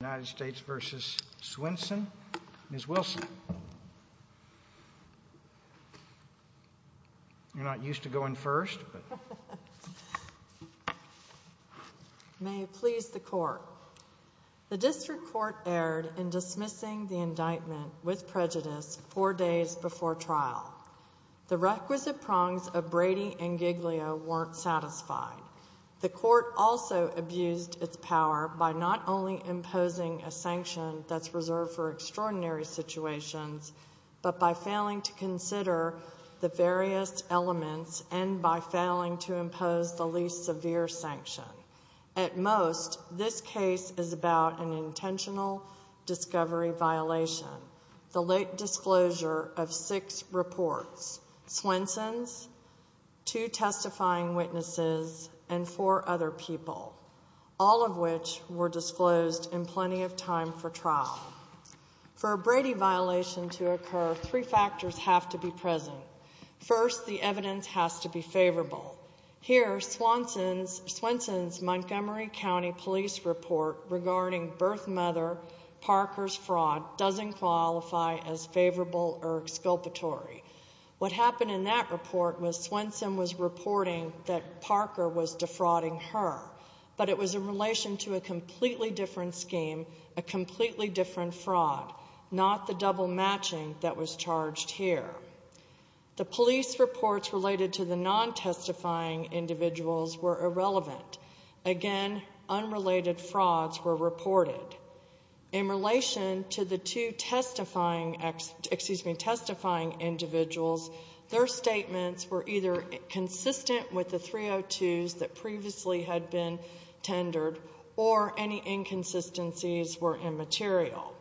United States v. Swenson. Ms. Wilson, you're not used to going first, but may it please the court. The district court erred in dismissing the indictment with prejudice four days before trial. The requisite prongs of Brady and Giglio weren't satisfied. The court also abused its power by not only imposing a sanction that's reserved for extraordinary situations, but by failing to consider the various elements and by failing to impose the least severe sanction. At most, this case is about an intentional discovery violation. The late disclosure of which were disclosed in plenty of time for trial. For a Brady violation to occur, three factors have to be present. First, the evidence has to be favorable. Here, Swenson's Montgomery County police report regarding birth mother Parker's fraud doesn't qualify as favorable or exculpatory. What happened in that report was Swenson was reporting that Parker was reporting to a completely different scheme, a completely different fraud, not the double matching that was charged here. The police reports related to the non-testifying individuals were irrelevant. Again, unrelated frauds were reported. In relation to the two testifying excuse me, testifying individuals, their statements were either consistent with the 302s that were presented or any inconsistencies were immaterial.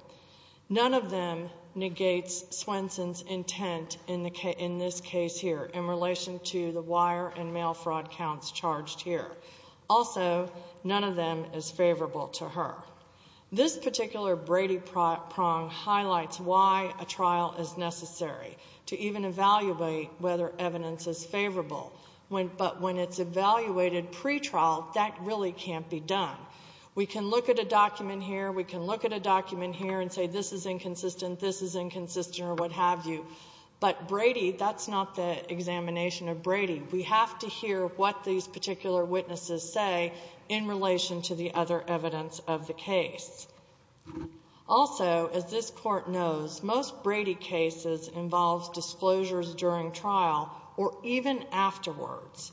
None of them negates Swenson's intent in this case here in relation to the wire and mail fraud counts charged here. Also, none of them is favorable to her. This particular Brady prong highlights why a trial is necessary to even evaluate whether evidence is favorable. But when it's evaluated pretrial, that really can't be done. We can look at a document here, we can look at a document here and say this is inconsistent, this is inconsistent, or what have you. But Brady, that's not the examination of Brady. We have to hear what these particular witnesses say in relation to the other evidence of the case. Also, as this Court knows, most Brady cases involve disclosures during trial or even afterwards.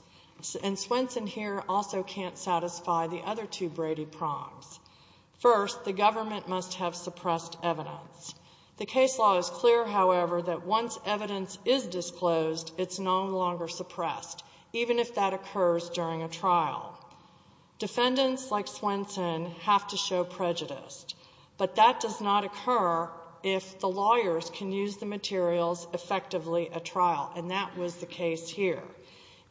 And Swenson here also can't satisfy the other two Brady prongs. First, the government must have suppressed evidence. The case law is clear, however, that once evidence is disclosed, it's no longer suppressed, even if that occurs during a trial. Defendants like Swenson have to show prejudice. But that does not occur if the lawyers can use the materials effectively at trial, and that was the case here.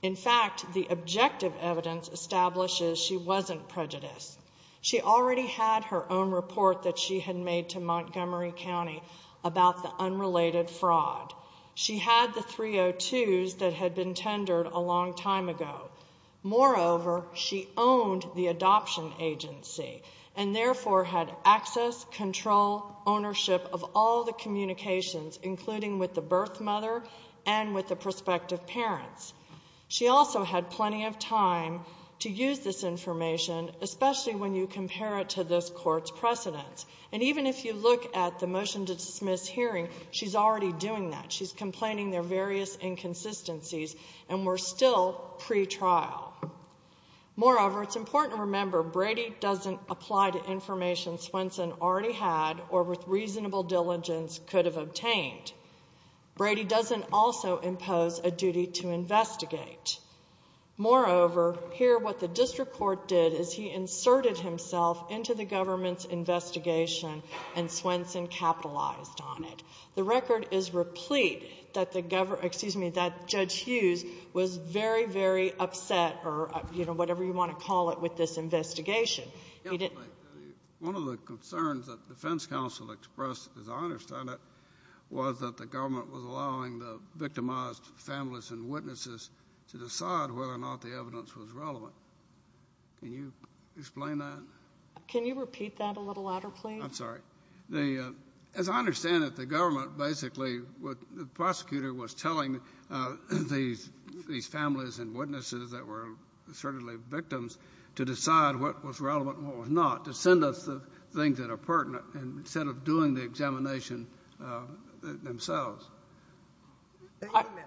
In fact, the objective evidence establishes she wasn't prejudiced. She already had her own report that she had made to Montgomery County about the unrelated fraud. She had the 302s that had been tendered a long time ago. Moreover, she owned the adoption agency and therefore had access, control, ownership of all the communications, including with the birth mother and with the prospective parents. She also had plenty of time to use this information, especially when you compare it to this Court's precedents. And even if you look at the motion to dismiss hearing, she's already doing that. She's complaining there are various inconsistencies and we're still pre-trial. Moreover, it's important to remember Brady doesn't apply to information that Swenson already had or with reasonable diligence could have obtained. Brady doesn't also impose a duty to investigate. Moreover, here what the district court did is he inserted himself into the government's investigation and Swenson capitalized on it. The record is replete that the government — excuse me, that Judge Hughes was very, very upset or, you know, whatever you want to call it, with this investigation. One of the concerns that the defense counsel expressed, as I understand it, was that the government was allowing the victimized families and witnesses to decide whether or not the evidence was relevant. Can you explain that? Can you repeat that a little louder, please? I'm sorry. The — as I understand it, the government basically — the prosecutor was telling these families and witnesses that were certainly victims to decide what was relevant and what was not, to send us the things that are pertinent, instead of doing the examination themselves.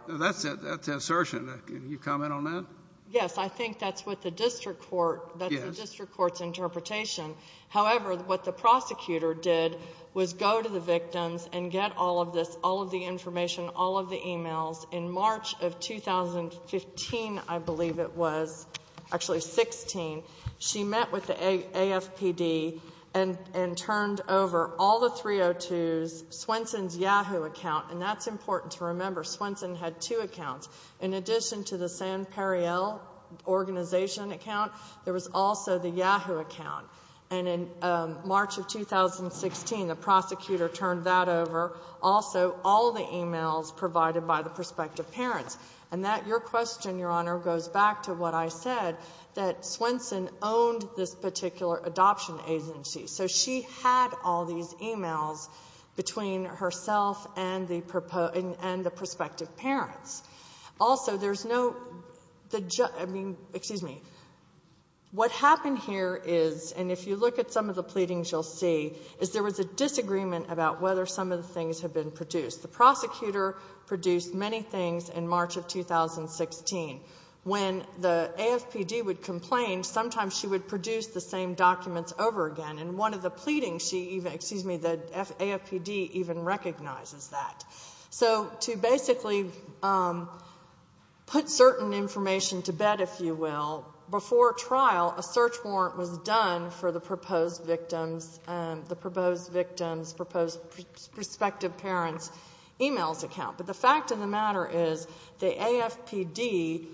That's the assertion. Can you comment on that? Yes. I think that's what the district court — that's the district court's interpretation. However, what the prosecutor did was go to the victims and get all of this, all of the information, all of the e-mails. In March of 2015, I believe it was — actually, March of 2016, she met with the AFPD and — and turned over all the 302s, Swenson's Yahoo account — and that's important to remember. Swenson had two accounts. In addition to the San Periel organization account, there was also the Yahoo account. And in March of 2016, the prosecutor turned that over. Also, all the e-mails provided by the prospective parents. And that — your question, Your Honor, goes back to what I said, that Swenson owned this particular adoption agency. So she had all these e-mails between herself and the prospective parents. Also, there's no — the — I mean, excuse me. What happened here is — and if you look at some of the pleadings, you'll see — is there was a disagreement about whether some of the things had been produced. The prosecutor produced many things in March of 2016. When the AFPD would complain, sometimes she would produce the same documents over again. In one of the pleadings, she even — excuse me, the AFPD even recognizes that. So to basically put certain information to bed, if you will, before trial, a search warrant was done for the proposed victims, the proposed victims' prospective parents' e-mails account. But the fact of the matter is, the AFPD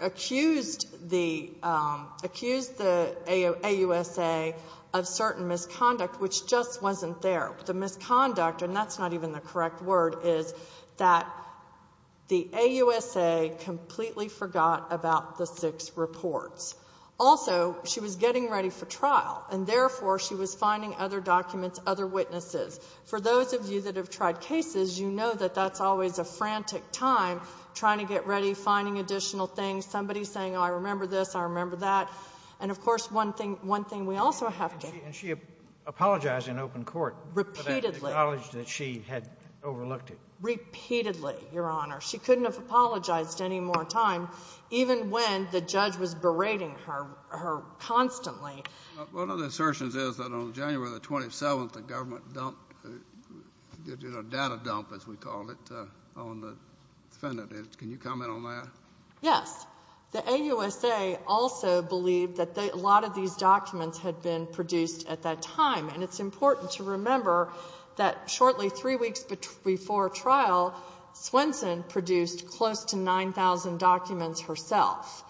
accused the — accused the AUSA of certain misconduct, which just wasn't there. The misconduct — and that's not even the correct word — is that the AUSA completely forgot about the six reports. Also, she was getting ready for trial, and therefore, she was finding other documents, other witnesses. For those of you that have tried cases, you know that that's always a frantic time, trying to get ready, finding additional things, somebody saying, oh, I remember this, I remember that. And of course, one thing — one thing we also have to — And she — and she apologized in open court — Repeatedly. — for that — acknowledged that she had overlooked it. Repeatedly, Your Honor. She couldn't have apologized any more time, even when the judge was berating her — her constantly. One of the assertions is that on January the 27th, the government dumped — did a data dump, as we called it, on the defendant. Can you comment on that? Yes. The AUSA also believed that a lot of these documents had been produced at that time. And it's important to remember that shortly three weeks before trial, Swenson produced close to 9,000 documents herself.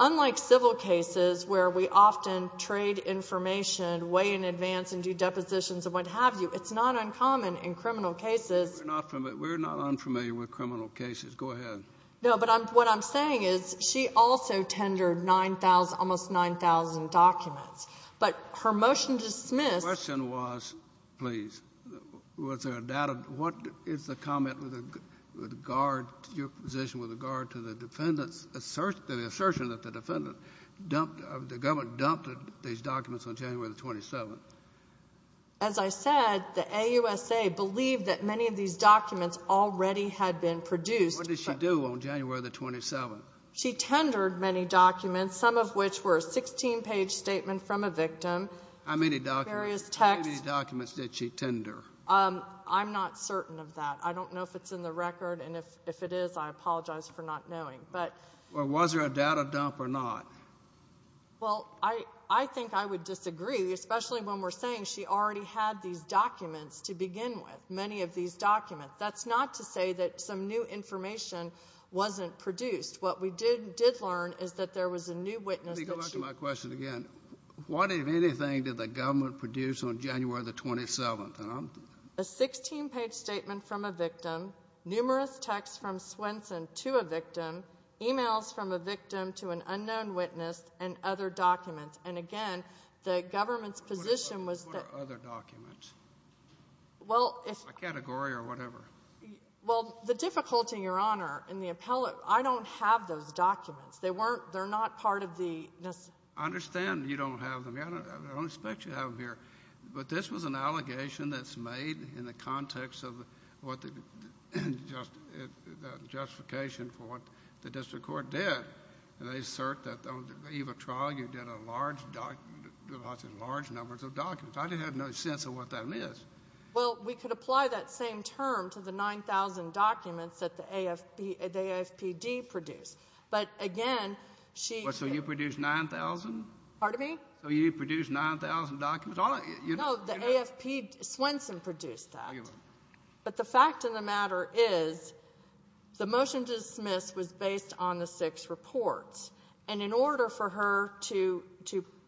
Unlike civil cases, where we often trade information way in advance and do depositions and what have you, it's not uncommon in criminal cases — We're not — we're not unfamiliar with criminal cases. Go ahead. No, but I'm — what I'm saying is, she also tendered 9,000 — almost 9,000 documents. But her motion to dismiss — My question was, please, was there a data — what is the comment with regard to your position with regard to the defendant's — the assertion that the defendant dumped — the government dumped these documents on January the 27th? As I said, the AUSA believed that many of these documents already had been produced — What did she do on January the 27th? She tendered many documents, some of which were a 16-page statement from a victim. How many documents — Various texts. How many documents did she tender? I'm not certain of that. I don't know if it's in the record, and if it is, I apologize for not knowing. But — Well, was there a data dump or not? Well, I — I think I would disagree, especially when we're saying she already had these documents to begin with, many of these documents. That's not to say that some new information wasn't produced. What we did learn is that there was a new witness that she — Let me go back to my question again. What, if anything, did the government produce on January the 27th? A 16-page statement from a victim, numerous texts from Swenson to a victim, emails from a victim to an unknown witness, and other documents. And again, the government's position was that — What are other documents? Well, if — A category or whatever. Well, the difficulty, Your Honor, in the appellate — I don't have those documents. They weren't — they're not part of the — I understand you don't have them here. I don't expect you to have them here. But this was an allegation that's made in the context of what the — the justification for what the district court did. They assert that on the Eva trial, you did a large doc — large numbers of documents. I didn't have no sense of what that means. Well, we could apply that same term to the 9,000 documents that the AFB — the AFPD produced. But again, she — So you produced 9,000? Pardon me? So you produced 9,000 documents? No, the AFP — Swenson produced that. But the fact of the matter is, the motion to dismiss was based on the six reports. And in order for her to —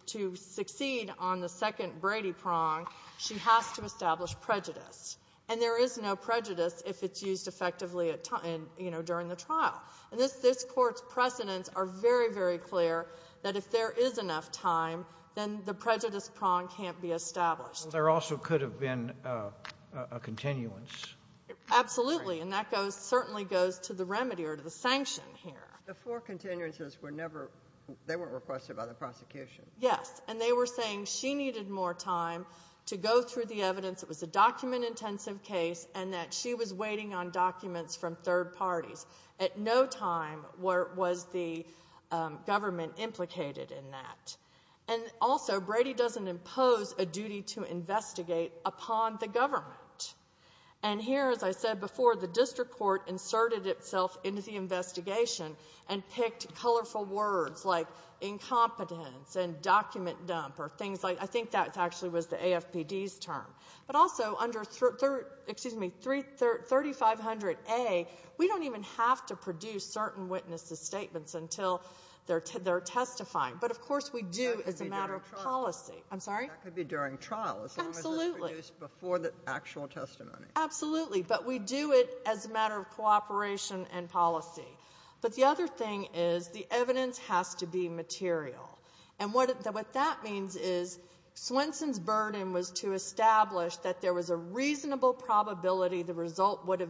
to succeed on the second Brady prong, she has to establish prejudice. And there is no prejudice if it's used effectively at — you know, during the trial. And this court's precedents are very, very clear that if there is enough time, then the prejudice prong can't be established. Well, there also could have been a continuance. Absolutely. And that goes — certainly goes to the remedy or to the sanction here. The four continuances were never — they weren't requested by the prosecution. Yes. And they were saying she needed more time to go through the evidence, it was a document-intensive case, and that she was waiting on documents from third parties. At no time was the government implicated in that. And also, Brady doesn't impose a duty to investigate upon the government. And here, as I said before, the district court inserted itself into the investigation and picked colorful words like incompetence and document dump or things like — I think that actually was the AFPD's term. But also, under 3500A, we don't even have to produce certain witnesses' statements until they're testifying. But, of course, we do as a matter of policy. I'm sorry? That could be during trial. Absolutely. As long as it's produced before the actual testimony. Absolutely. But we do it as a matter of cooperation and policy. But the other thing is, the evidence has to be material. And what that means is, Swenson's burden was to establish that there was a reasonable probability the result would have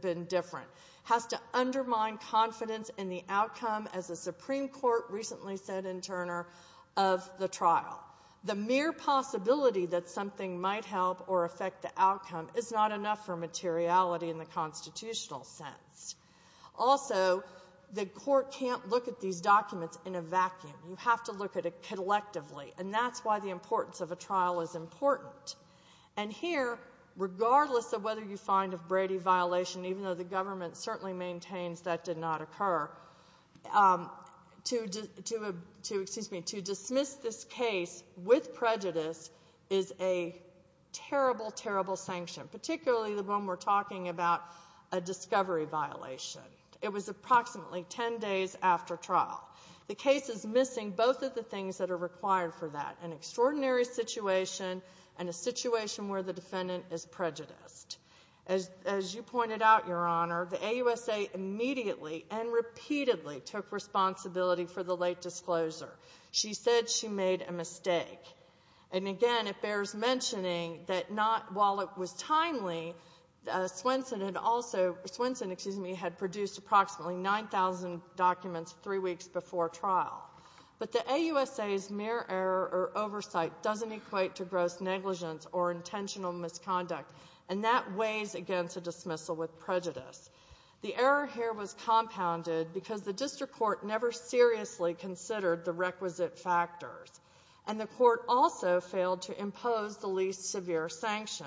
been different. It has to undermine confidence in the outcome, as the Supreme Court recently said in Turner, of the trial. The mere possibility that something might help or affect the outcome is not enough for materiality in the constitutional sense. Also, the court can't look at these documents in a vacuum. You have to look at it collectively. And that's why the importance of a trial is important. And here, regardless of whether you find a Brady violation, even though the government certainly maintains that did not occur, to dismiss this case with prejudice is a terrible, terrible sanction. Particularly when we're talking about a discovery violation. It was approximately 10 days after trial. The case is missing both of the things that are required for that. An extraordinary situation, and a situation where the defendant is prejudiced. As you pointed out, Your Honor, the AUSA immediately and repeatedly took responsibility for the late disclosure. She said she made a mistake. And again, it bears mentioning that while it was timely, Swenson had produced approximately 9,000 documents three weeks before trial. But the AUSA's mere oversight doesn't equate to gross negligence or intentional misconduct. And that weighs against a dismissal with prejudice. The error here was compounded because the district court never seriously considered the requisite factors. And the court also failed to impose the least severe sanction.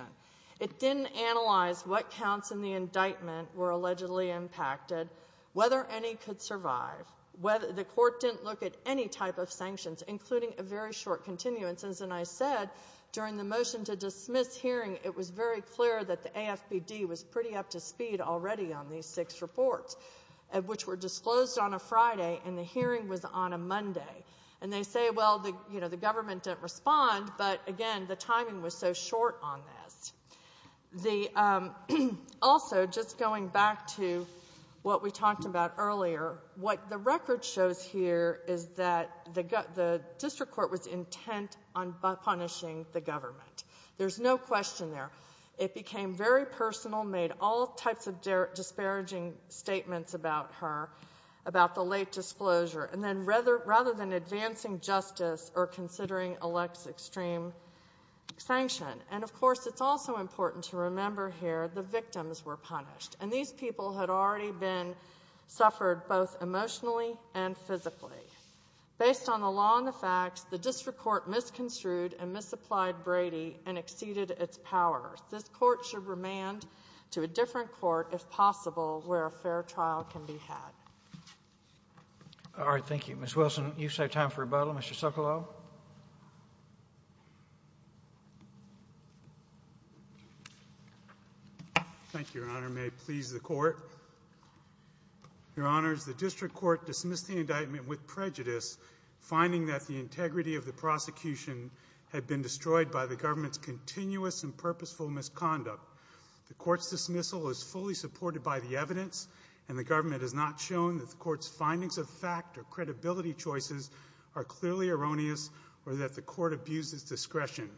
It didn't analyze what counts in the indictment were allegedly impacted. Whether any could survive. The court didn't look at any type of sanctions, including a very short continuance. And as I said, during the motion to dismiss hearing, it was very clear that the AFBD was pretty up to speed already on these six reports. Which were disclosed on a Friday, and the hearing was on a Monday. And they say, well, the government didn't respond, but again, the timing was so short on this. Also, just going back to what we talked about earlier, what the record shows here is that the district court was intent on punishing the government. There's no question there. It became very personal, made all types of disparaging statements about her, about the late disclosure. And then rather than advancing justice, or considering elects extreme sanction. And of course, it's also important to remember here, the victims were punished. And these people had already been suffered both emotionally and physically. Based on the law and the facts, the district court misconstrued and misapplied Brady and exceeded its power. This court should remand to a different court, if possible, where a fair trial can be had. All right, thank you. Ms. Wilson, you said time for rebuttal. Mr. Sokolow? Thank you, Your Honor. May it please the court. Your Honors, the district court dismissed the indictment with prejudice. Finding that the integrity of the prosecution had been destroyed by the government's continuous and purposeful misconduct. The court's dismissal is fully supported by the evidence. And the government has not shown that the court's findings of fact or credibility choices are clearly erroneous. Or that the court abuses discretion.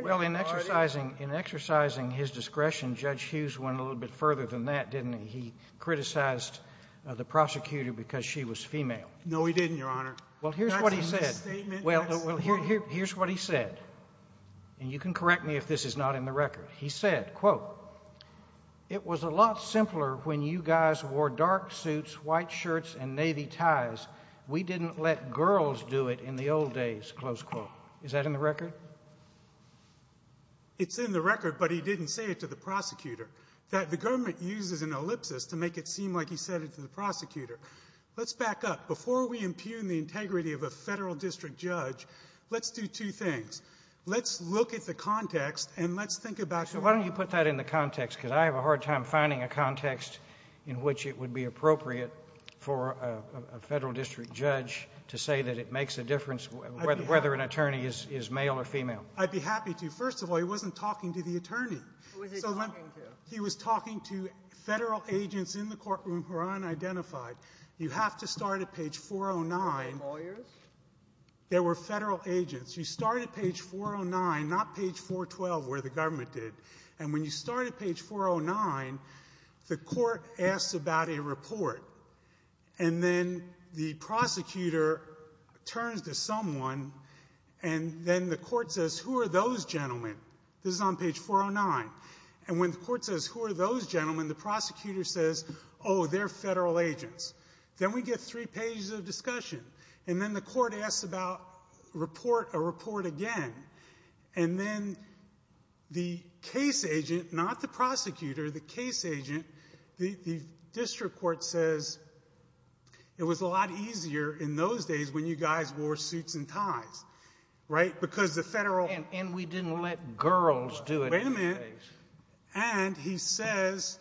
Well, in exercising his discretion, Judge Hughes went a little bit further than that, didn't he? He criticized the prosecutor because she was female. No, he didn't, Your Honor. Well, here's what he said. Here's what he said. And you can correct me if this is not in the record. He said, quote, It was a lot simpler when you guys wore dark suits, white shirts, and navy ties. We didn't let girls do it in the old days. Close quote. Is that in the record? It's in the record, but he didn't say it to the prosecutor. The government uses an ellipsis to make it seem like he said it to the prosecutor. Let's back up. Before we impugn the integrity of a federal district judge, let's do two things. Let's look at the context, and let's think about the court. So why don't you put that in the context? Because I have a hard time finding a context in which it would be appropriate for a federal district judge to say that it makes a difference whether an attorney is male or female. I'd be happy to. First of all, he wasn't talking to the attorney. Who was he talking to? He was talking to federal agents in the courtroom who are unidentified. You have to start at page 409. Were they lawyers? They were federal agents. You start at page 409, not page 412 where the government did. And when you start at page 409, the court asks about a report. And then the prosecutor turns to someone, and then the court says, Who are those gentlemen? This is on page 409. And when the court says, Who are those gentlemen? The prosecutor says, Oh, they're federal agents. Then we get three pages of discussion. And then the court asks about a report again. And then the case agent, not the prosecutor, the case agent, the district court says, It was a lot easier in those days when you guys wore suits and ties. Right? Because the federal ---- And we didn't let girls do it. Wait a minute. And he says,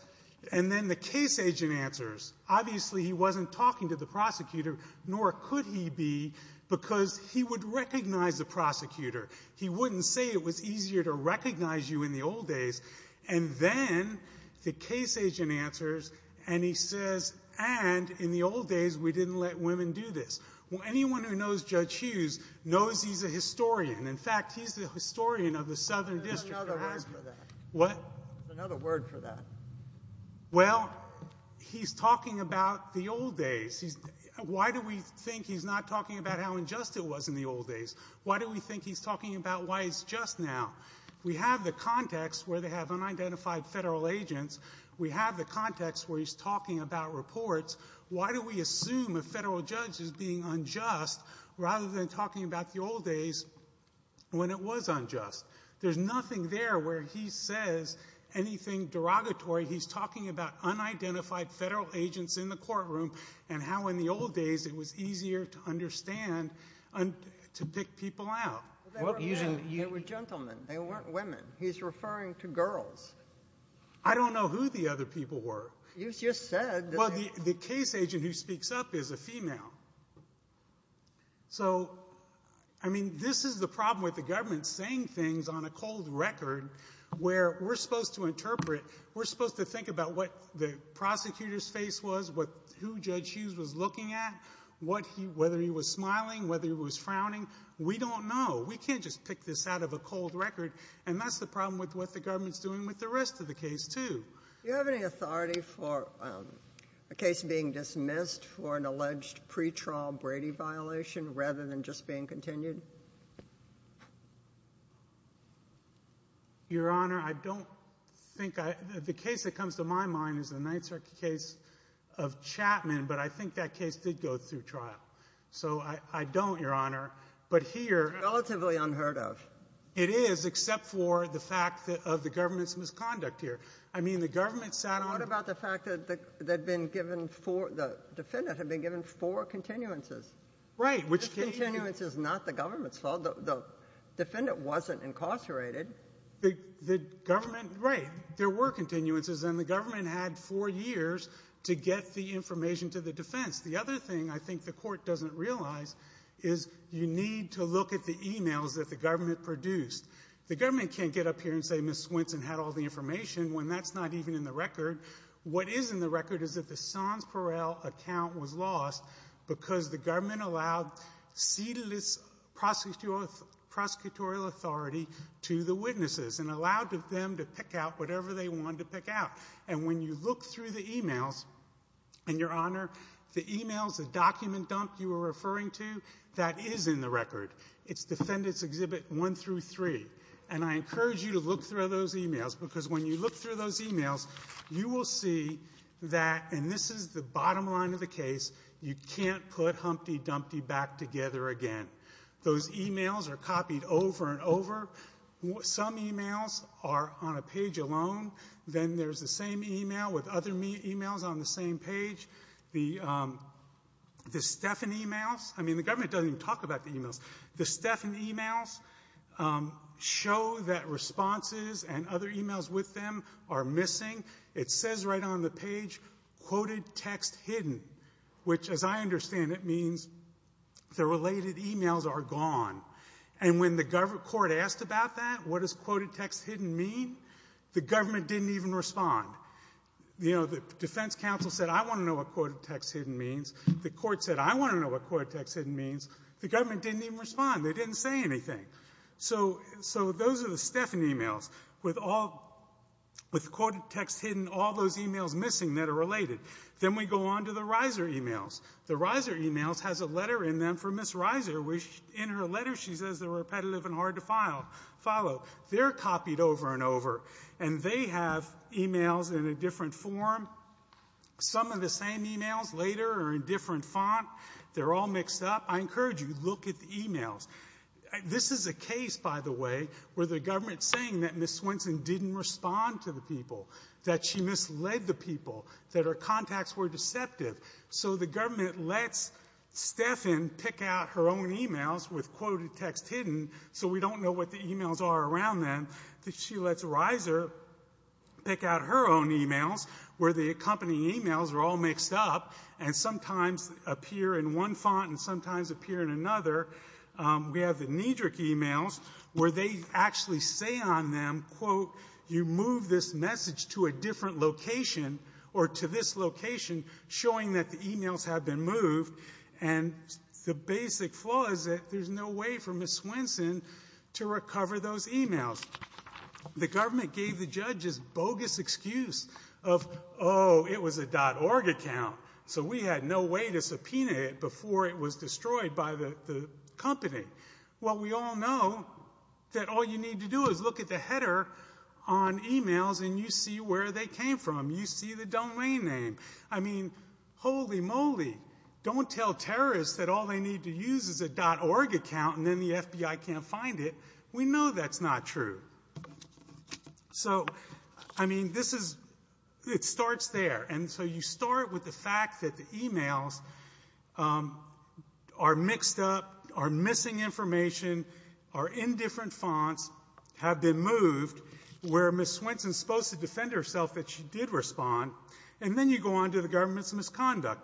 and then the case agent answers. Obviously, he wasn't talking to the prosecutor, nor could he be, because he would recognize the prosecutor. He wouldn't say it was easier to recognize you in the old days. And then the case agent answers, and he says, and in the old days we didn't let women do this. Well, anyone who knows Judge Hughes knows he's a historian. In fact, he's the historian of the Southern District of Alaska. Another word for that. What? Another word for that. Well, he's talking about the old days. Why do we think he's not talking about how unjust it was in the old days? Why do we think he's talking about why it's just now? We have the context where they have unidentified federal agents. We have the context where he's talking about reports. Why do we assume a federal judge is being unjust rather than talking about the old days when it was unjust? There's nothing there where he says anything derogatory. He's talking about unidentified federal agents in the courtroom and how in the old days it was easier to understand and to pick people out. They were gentlemen. They weren't women. He's referring to girls. I don't know who the other people were. Well, the case agent who speaks up is a female. So, I mean, this is the problem with the government saying things on a cold record where we're supposed to interpret, we're supposed to think about what the prosecutor's face was, who Judge Hughes was looking at, whether he was smiling, whether he was frowning. We don't know. We can't just pick this out of a cold record. And that's the problem with what the government's doing with the rest of the case, too. Do you have any authority for a case being dismissed for an alleged pre-trial Brady violation rather than just being continued? Your Honor, I don't think I – the case that comes to my mind is the Ninth Circuit case of Chapman, but I think that case did go through trial. So, I don't, Your Honor. But here – Relatively unheard of. It is, except for the fact of the government's misconduct here. I mean, the government sat on – What about the fact that the defendant had been given four continuances? Right. The continuance is not the government's fault. The defendant wasn't incarcerated. The government – right. There were continuances, and the government had four years to get the information to the defense. The other thing I think the court doesn't realize is you need to look at the emails that the government produced. The government can't get up here and say Ms. Swenson had all the information when that's not even in the record. What is in the record is that the Sons Per El account was lost because the government allowed cedeless prosecutorial authority to the witnesses and allowed them to pick out whatever they wanted to pick out. And when you look through the emails – And, Your Honor, the emails, the document dump you were referring to, that is in the record. It's Defendants Exhibit 1 through 3. And I encourage you to look through those emails because when you look through those emails, you will see that – and this is the bottom line of the case – you can't put Humpty Dumpty back together again. Those emails are copied over and over. Some emails are on a page alone. Then there's the same email with other emails on the same page. The Stephan emails – I mean, the government doesn't even talk about the emails. The Stephan emails show that responses and other emails with them are missing. It says right on the page, quoted text hidden, which as I understand it means the related emails are gone. And when the court asked about that, what does quoted text hidden mean, the government didn't even respond. You know, the defense counsel said, I want to know what quoted text hidden means. The court said, I want to know what quoted text hidden means. The government didn't even respond. They didn't say anything. So those are the Stephan emails with quoted text hidden, all those emails missing that are related. Then we go on to the Reiser emails. The Reiser emails has a letter in them for Ms. Reiser, which in her letter she says they're repetitive and hard to follow. They're copied over and over. And they have emails in a different form. Some of the same emails later are in different font. They're all mixed up. I encourage you to look at the emails. This is a case, by the way, where the government is saying that Ms. Swenson didn't respond to the people, that she misled the people, that her contacts were deceptive. So the government lets Stephan pick out her own emails with quoted text hidden so we don't know what the emails are around them. She lets Reiser pick out her own emails where the accompanying emails are all mixed up and sometimes appear in one font and sometimes appear in another. We have the Nedrick emails where they actually say on them, quote, you move this message to a different location or to this location, showing that the emails have been moved. And the basic flaw is that there's no way for Ms. Swenson to recover those emails. The government gave the judges bogus excuse of, oh, it was a .org account. So we had no way to subpoena it before it was destroyed by the company. Well, we all know that all you need to do is look at the header on emails and you see where they came from. You see the domain name. I mean, holy moly, don't tell terrorists that all they need to use is a .org account and then the FBI can't find it. We know that's not true. So, I mean, this is, it starts there. And so you start with the fact that the emails are mixed up, are missing information, are in different fonts, have been moved, where Ms. Swenson is supposed to defend herself that she did respond. And then you go on to the government's misconduct.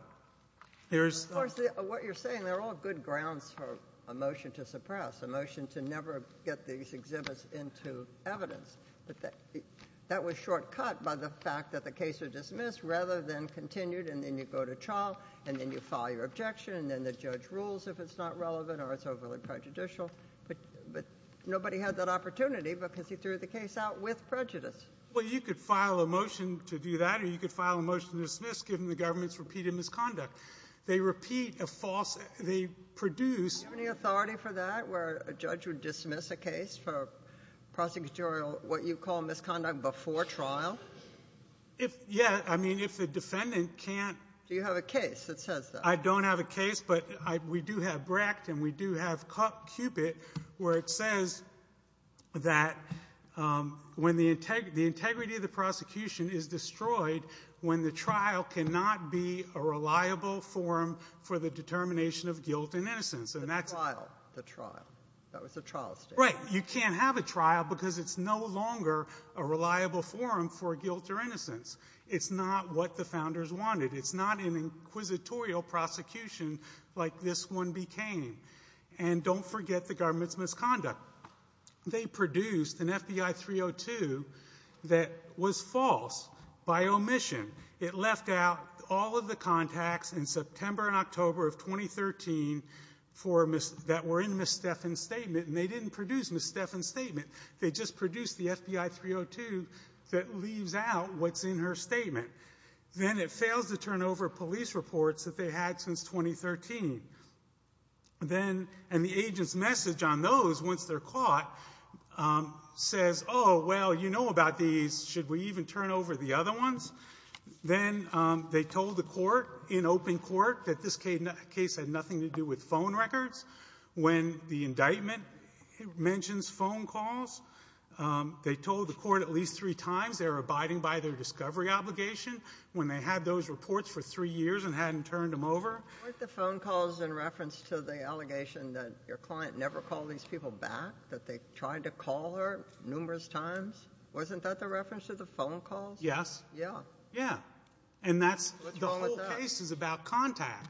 Of course, what you're saying, they're all good grounds for a motion to suppress, a motion to never get these exhibits into evidence. But that was shortcut by the fact that the case was dismissed rather than continued. And then you go to trial and then you file your objection and then the judge rules if it's not relevant or it's overly prejudicial. But nobody had that opportunity because he threw the case out with prejudice. Well, you could file a motion to do that or you could file a motion to dismiss given the government's repeated misconduct. They repeat a false, they produce. Do you have any authority for that where a judge would dismiss a case for prosecutorial what you call misconduct before trial? Yeah. I mean, if the defendant can't. Do you have a case that says that? I don't have a case, but we do have Brecht and we do have Cupid where it says that when the integrity of the prosecution is destroyed when the trial cannot be a reliable forum for the determination of guilt and innocence. The trial. The trial. That was the trial statement. Right. You can't have a trial because it's no longer a reliable forum for guilt or innocence. It's not what the founders wanted. It's not an inquisitorial prosecution like this one became. And don't forget the government's misconduct. They produced an FBI 302 that was false by omission. It left out all of the contacts in September and October of 2013 that were in Ms. Stephan's statement. And they didn't produce Ms. Stephan's statement. They just produced the FBI 302 that leaves out what's in her statement. Then it fails to turn over police reports that they had since 2013. And the agent's message on those once they're caught says, oh, well, you know about these. Should we even turn over the other ones? Then they told the court in open court that this case had nothing to do with phone records. When the indictment mentions phone calls, they told the court at least three times they were abiding by their discovery obligation when they had those reports for three years and hadn't turned them over. Weren't the phone calls in reference to the allegation that your client never called these people back, that they tried to call her numerous times? Wasn't that the reference to the phone calls? Yes. Yeah. And that's the whole case is about contact.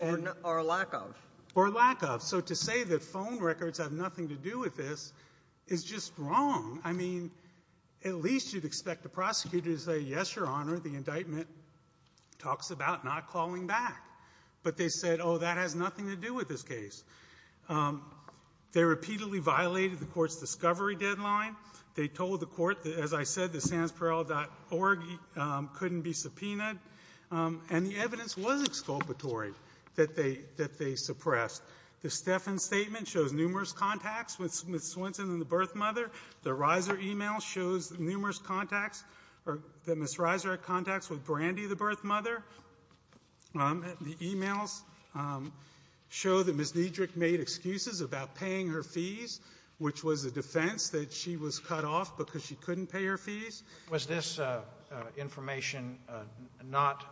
Or lack of. Or lack of. So to say that phone records have nothing to do with this is just wrong. I mean, at least you'd expect the prosecutor to say, yes, Your Honor, the indictment talks about not calling back. But they said, oh, that has nothing to do with this case. They repeatedly violated the court's discovery deadline. They told the court that, as I said, the sansperl.org couldn't be subpoenaed. And the evidence was exculpatory that they suppressed. The Steffens statement shows numerous contacts with Ms. Swenson and the birth mother. The Reiser e-mail shows numerous contacts or that Ms. Reiser had contacts with Brandy, the birth mother. The e-mails show that Ms. Niedrich made excuses about paying her fees, which was a defense that she was cut off because she couldn't pay her fees. Was this information not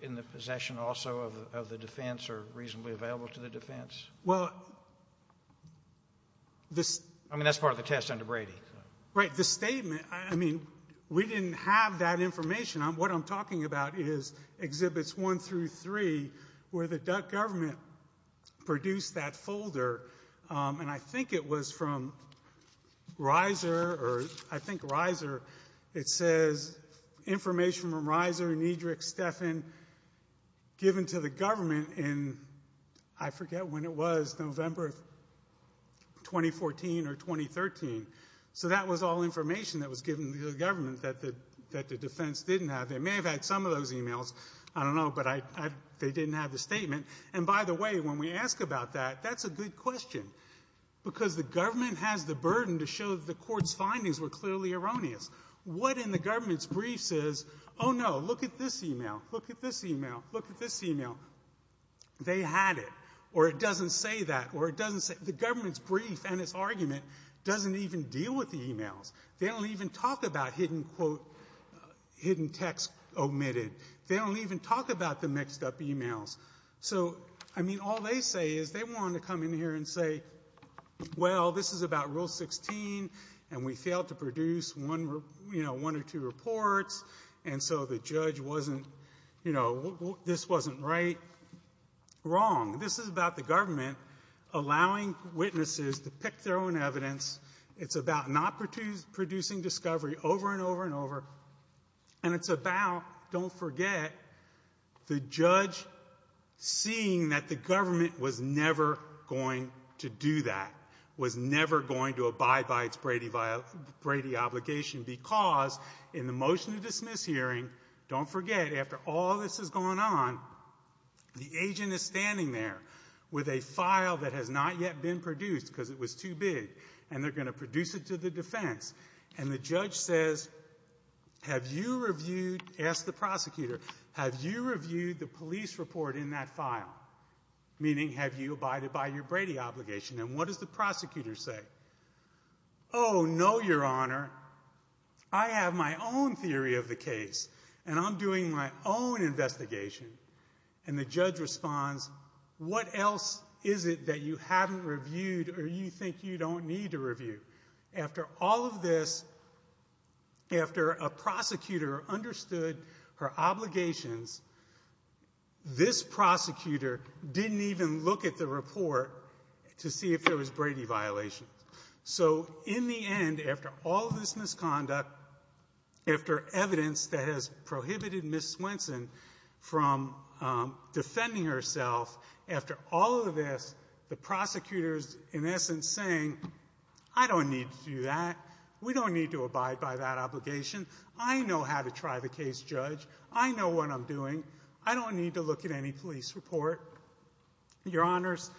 in the possession also of the defense or reasonably available to the defense? Well, this. I mean, that's part of the test under Brady. Right. The statement, I mean, we didn't have that information. What I'm talking about is Exhibits 1 through 3 where the Duck government produced that folder. And I think it was from Reiser or I think Reiser. It says information from Reiser, Niedrich, Steffen given to the government in, I forget when it was, November of 2014 or 2013. So that was all information that was given to the government that the defense didn't have. They may have had some of those e-mails. I don't know. But they didn't have the statement. And by the way, when we ask about that, that's a good question. Because the government has the burden to show that the court's findings were clearly erroneous. What in the government's brief says, oh, no, look at this e-mail, look at this e-mail, look at this e-mail. They had it. Or it doesn't say that. Or it doesn't say. The government's brief and its argument doesn't even deal with the e-mails. They don't even talk about hidden quote, hidden text omitted. They don't even talk about the mixed up e-mails. So, I mean, all they say is they wanted to come in here and say, well, this is about Rule 16, and we failed to produce one or two reports, and so the judge wasn't, you know, this wasn't right. Wrong. This is about the government allowing witnesses to pick their own evidence. It's about not producing discovery over and over and over. And it's about, don't forget, the judge seeing that the government was never going to do that, was never going to abide by its Brady obligation because in the motion to dismiss hearing, don't forget, after all this has gone on, the agent is standing there with a file that has not yet been produced because it was too big, and they're going to produce it to the defense. And the judge says, have you reviewed, asked the prosecutor, have you reviewed the police report in that file, meaning have you abided by your Brady obligation? And what does the prosecutor say? Oh, no, your honor. I have my own theory of the case, and I'm doing my own investigation. And the judge responds, what else is it that you haven't reviewed or you think you don't need to review? After all of this, after a prosecutor understood her obligations, this prosecutor didn't even look at the report to see if there was Brady violations. So in the end, after all this misconduct, after evidence that has prohibited Ms. Swenson from defending herself, after all of this, the prosecutor is in essence saying, I don't need to do that. We don't need to abide by that obligation. I know how to try the case, judge. I know what I'm doing. I don't need to look at any police report. Your honors,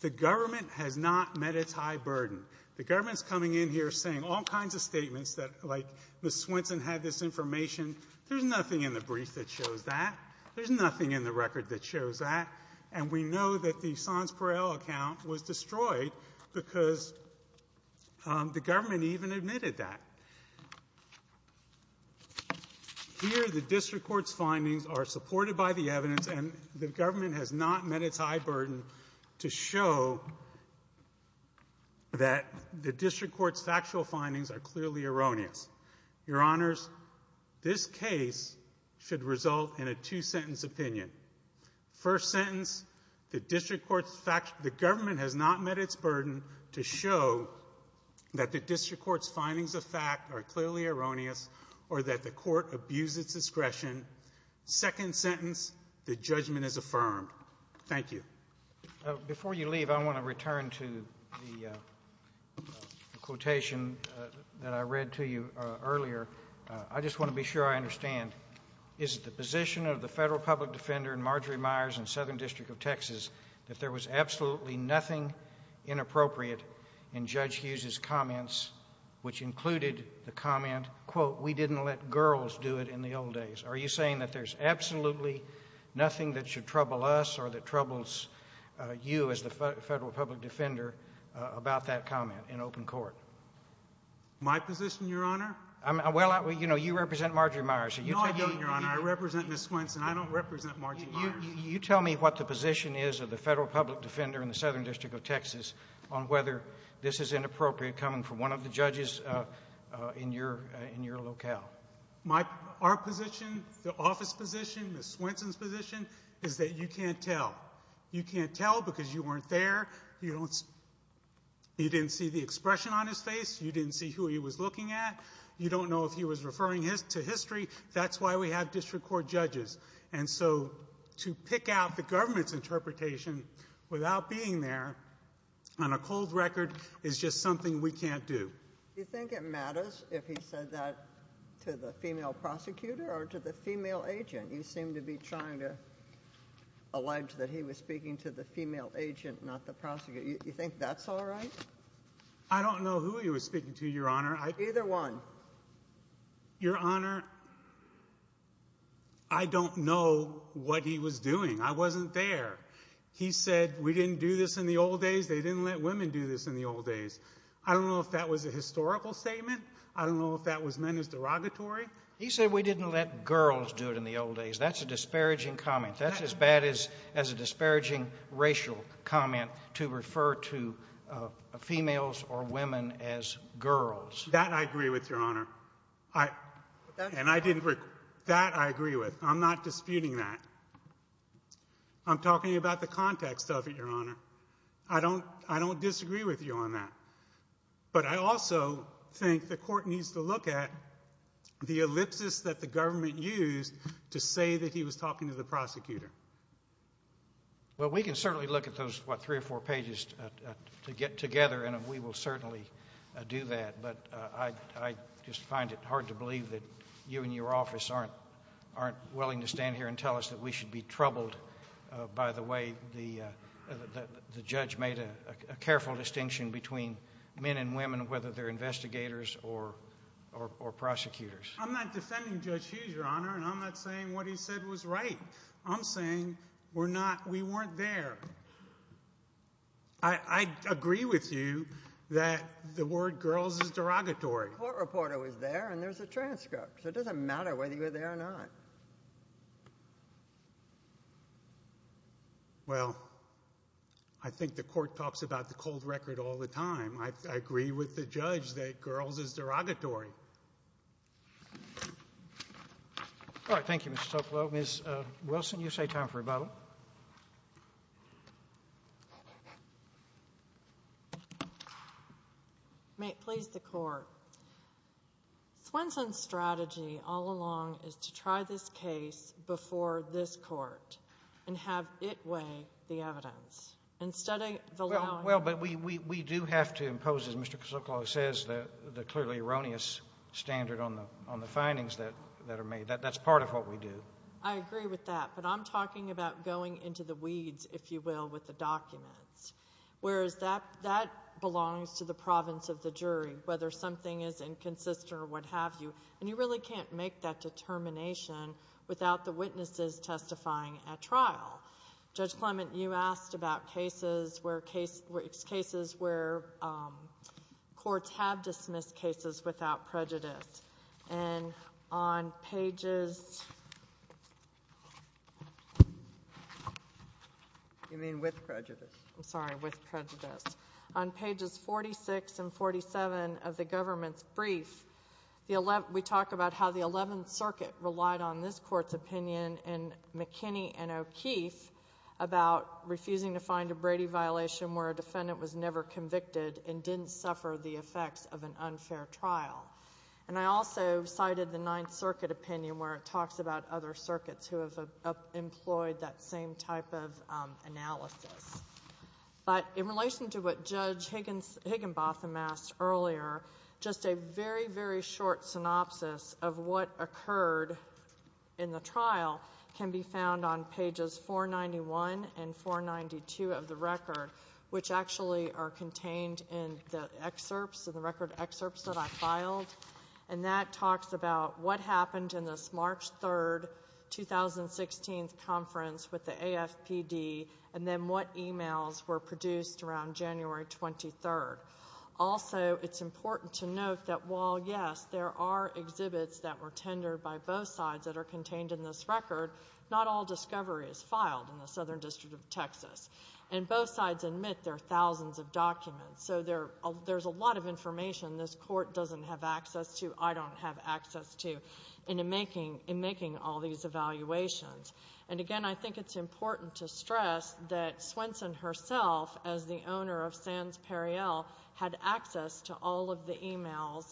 the government has not met its high burden. The government is coming in here saying all kinds of statements that, like Ms. Swenson had this information. There's nothing in the brief that shows that. There's nothing in the record that shows that. And we know that the Sonscorrell account was destroyed because the government even admitted that. Here, the district court's findings are supported by the evidence, and the government has not met its high burden to show that the district court's factual findings are clearly erroneous. Your honors, this case should result in a two-sentence opinion. First sentence, the government has not met its burden to show that the district court's findings of fact are clearly erroneous or that the court abused its discretion. Second sentence, the judgment is affirmed. Thank you. Before you leave, I want to return to the quotation that I read to you earlier. I just want to be sure I understand. Is it the position of the federal public defender in Marjory Myers and Southern District of Texas that there was absolutely nothing inappropriate in Judge Hughes' comments, which included the comment, quote, we didn't let girls do it in the old days? Are you saying that there's absolutely nothing that should trouble us or that troubles you as the federal public defender about that comment in open court? My position, Your Honor? Well, you know, you represent Marjory Myers. No, I don't, Your Honor. I represent Ms. Swenson. I don't represent Marjory Myers. You tell me what the position is of the federal public defender in the Southern District of Texas on whether this is inappropriate coming from one of the judges in your locale. Our position, the office position, Ms. Swenson's position, is that you can't tell. You can't tell because you weren't there. You didn't see the expression on his face. You didn't see who he was looking at. You don't know if he was referring to history. That's why we have district court judges. And so to pick out the government's interpretation without being there on a cold record is just something we can't do. Do you think it matters if he said that to the female prosecutor or to the female agent? You seem to be trying to allege that he was speaking to the female agent, not the prosecutor. Do you think that's all right? I don't know who he was speaking to, Your Honor. Either one. Your Honor, I don't know what he was doing. I wasn't there. He said, we didn't do this in the old days. They didn't let women do this in the old days. I don't know if that was a historical statement. I don't know if that was men's derogatory. He said, we didn't let girls do it in the old days. That's a disparaging comment. That's as bad as a disparaging racial comment to refer to females or women as girls. That I agree with, Your Honor. And I didn't – that I agree with. I'm not disputing that. I'm talking about the context of it, Your Honor. I don't disagree with you on that. But I also think the court needs to look at the ellipsis that the government used to say that he was talking to the prosecutor. Well, we can certainly look at those, what, three or four pages to get together, and we will certainly do that. But I just find it hard to believe that you and your office aren't willing to stand here and tell us that we should be troubled by the way the judge made a careful distinction between men and women, whether they're investigators or prosecutors. I'm not defending Judge Hughes, Your Honor, and I'm not saying what he said was right. I'm saying we're not – we weren't there. I agree with you that the word girls is derogatory. The court reporter was there, and there's a transcript. So it doesn't matter whether you were there or not. It doesn't matter. Well, I think the court talks about the cold record all the time. I agree with the judge that girls is derogatory. All right, thank you, Mr. Toclo. Ms. Wilson, you say time for rebuttal. May it please the Court. Swenson's strategy all along is to try this case before this Court and have it weigh the evidence. Well, but we do have to impose, as Mr. Sokolow says, the clearly erroneous standard on the findings that are made. That's part of what we do. I agree with that, but I'm talking about going into the weeds, if you will, with the documents. Whereas that belongs to the province of the jury, whether something is inconsistent or what have you. And you really can't make that determination without the witnesses testifying at trial. Judge Clement, you asked about cases where courts have dismissed cases without prejudice. And on pages – You mean with prejudice? I'm sorry, with prejudice. On pages 46 and 47 of the government's brief, we talk about how the 11th Circuit relied on this court's opinion in McKinney and O'Keeffe about refusing to find a Brady violation where a defendant was never convicted and didn't suffer the effects of an unfair trial. And I also cited the 9th Circuit opinion where it talks about other circuits who have employed that same type of analysis. But in relation to what Judge Higginbotham asked earlier, just a very, very short synopsis of what occurred in the trial can be found on pages 491 and 492 of the record, which actually are contained in the excerpts, in the record excerpts that I filed. And that talks about what happened in this March 3, 2016 conference with the AFPD and then what emails were produced around January 23. Also, it's important to note that while, yes, there are exhibits that were tendered by both sides that are contained in this record, not all discovery is filed in the Southern District of Texas. And both sides admit there are thousands of documents. So there's a lot of information this court doesn't have access to, I don't have access to, in making all these evaluations. And again, I think it's important to stress that Swenson herself, as the owner of Sands Periel, had access to all of the emails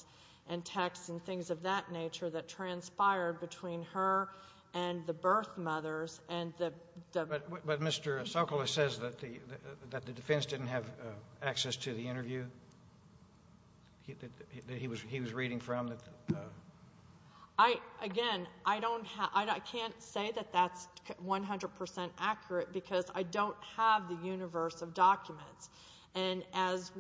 and texts and things of that nature that transpired between her and the birth mothers. But Mr. Sokoloff says that the defense didn't have access to the interview that he was reading from? Again, I can't say that that's 100% accurate because I don't have the universe of documents. And as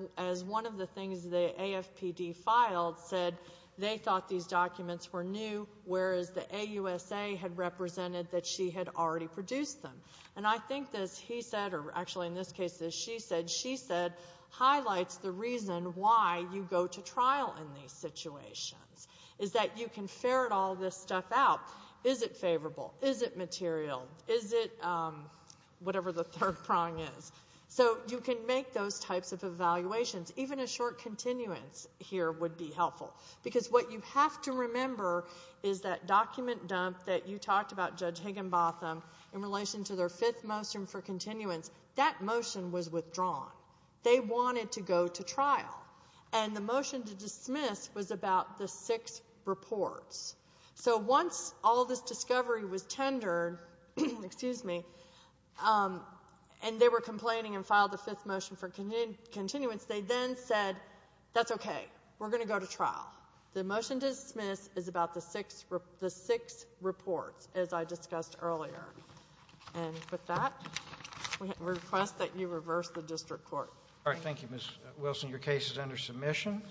one of the things the AFPD filed said, they thought these documents were new, whereas the AUSA had represented that she had already produced them. And I think this, he said, or actually in this case she said, she said, highlights the reason why you go to trial in these situations, is that you can ferret all this stuff out. Is it favorable? Is it material? Is it whatever the third prong is? So you can make those types of evaluations. Even a short continuance here would be helpful. Because what you have to remember is that document dump that you talked about, Judge Higginbotham, in relation to their fifth motion for continuance, that motion was withdrawn. They wanted to go to trial. And the motion to dismiss was about the six reports. So once all this discovery was tendered, and they were complaining and filed the fifth motion for continuance, they then said, that's okay, we're going to go to trial. The motion to dismiss is about the six reports, as I discussed earlier. And with that, we request that you reverse the district court. All right. Thank you, Ms. Wilson. Your case is under submission.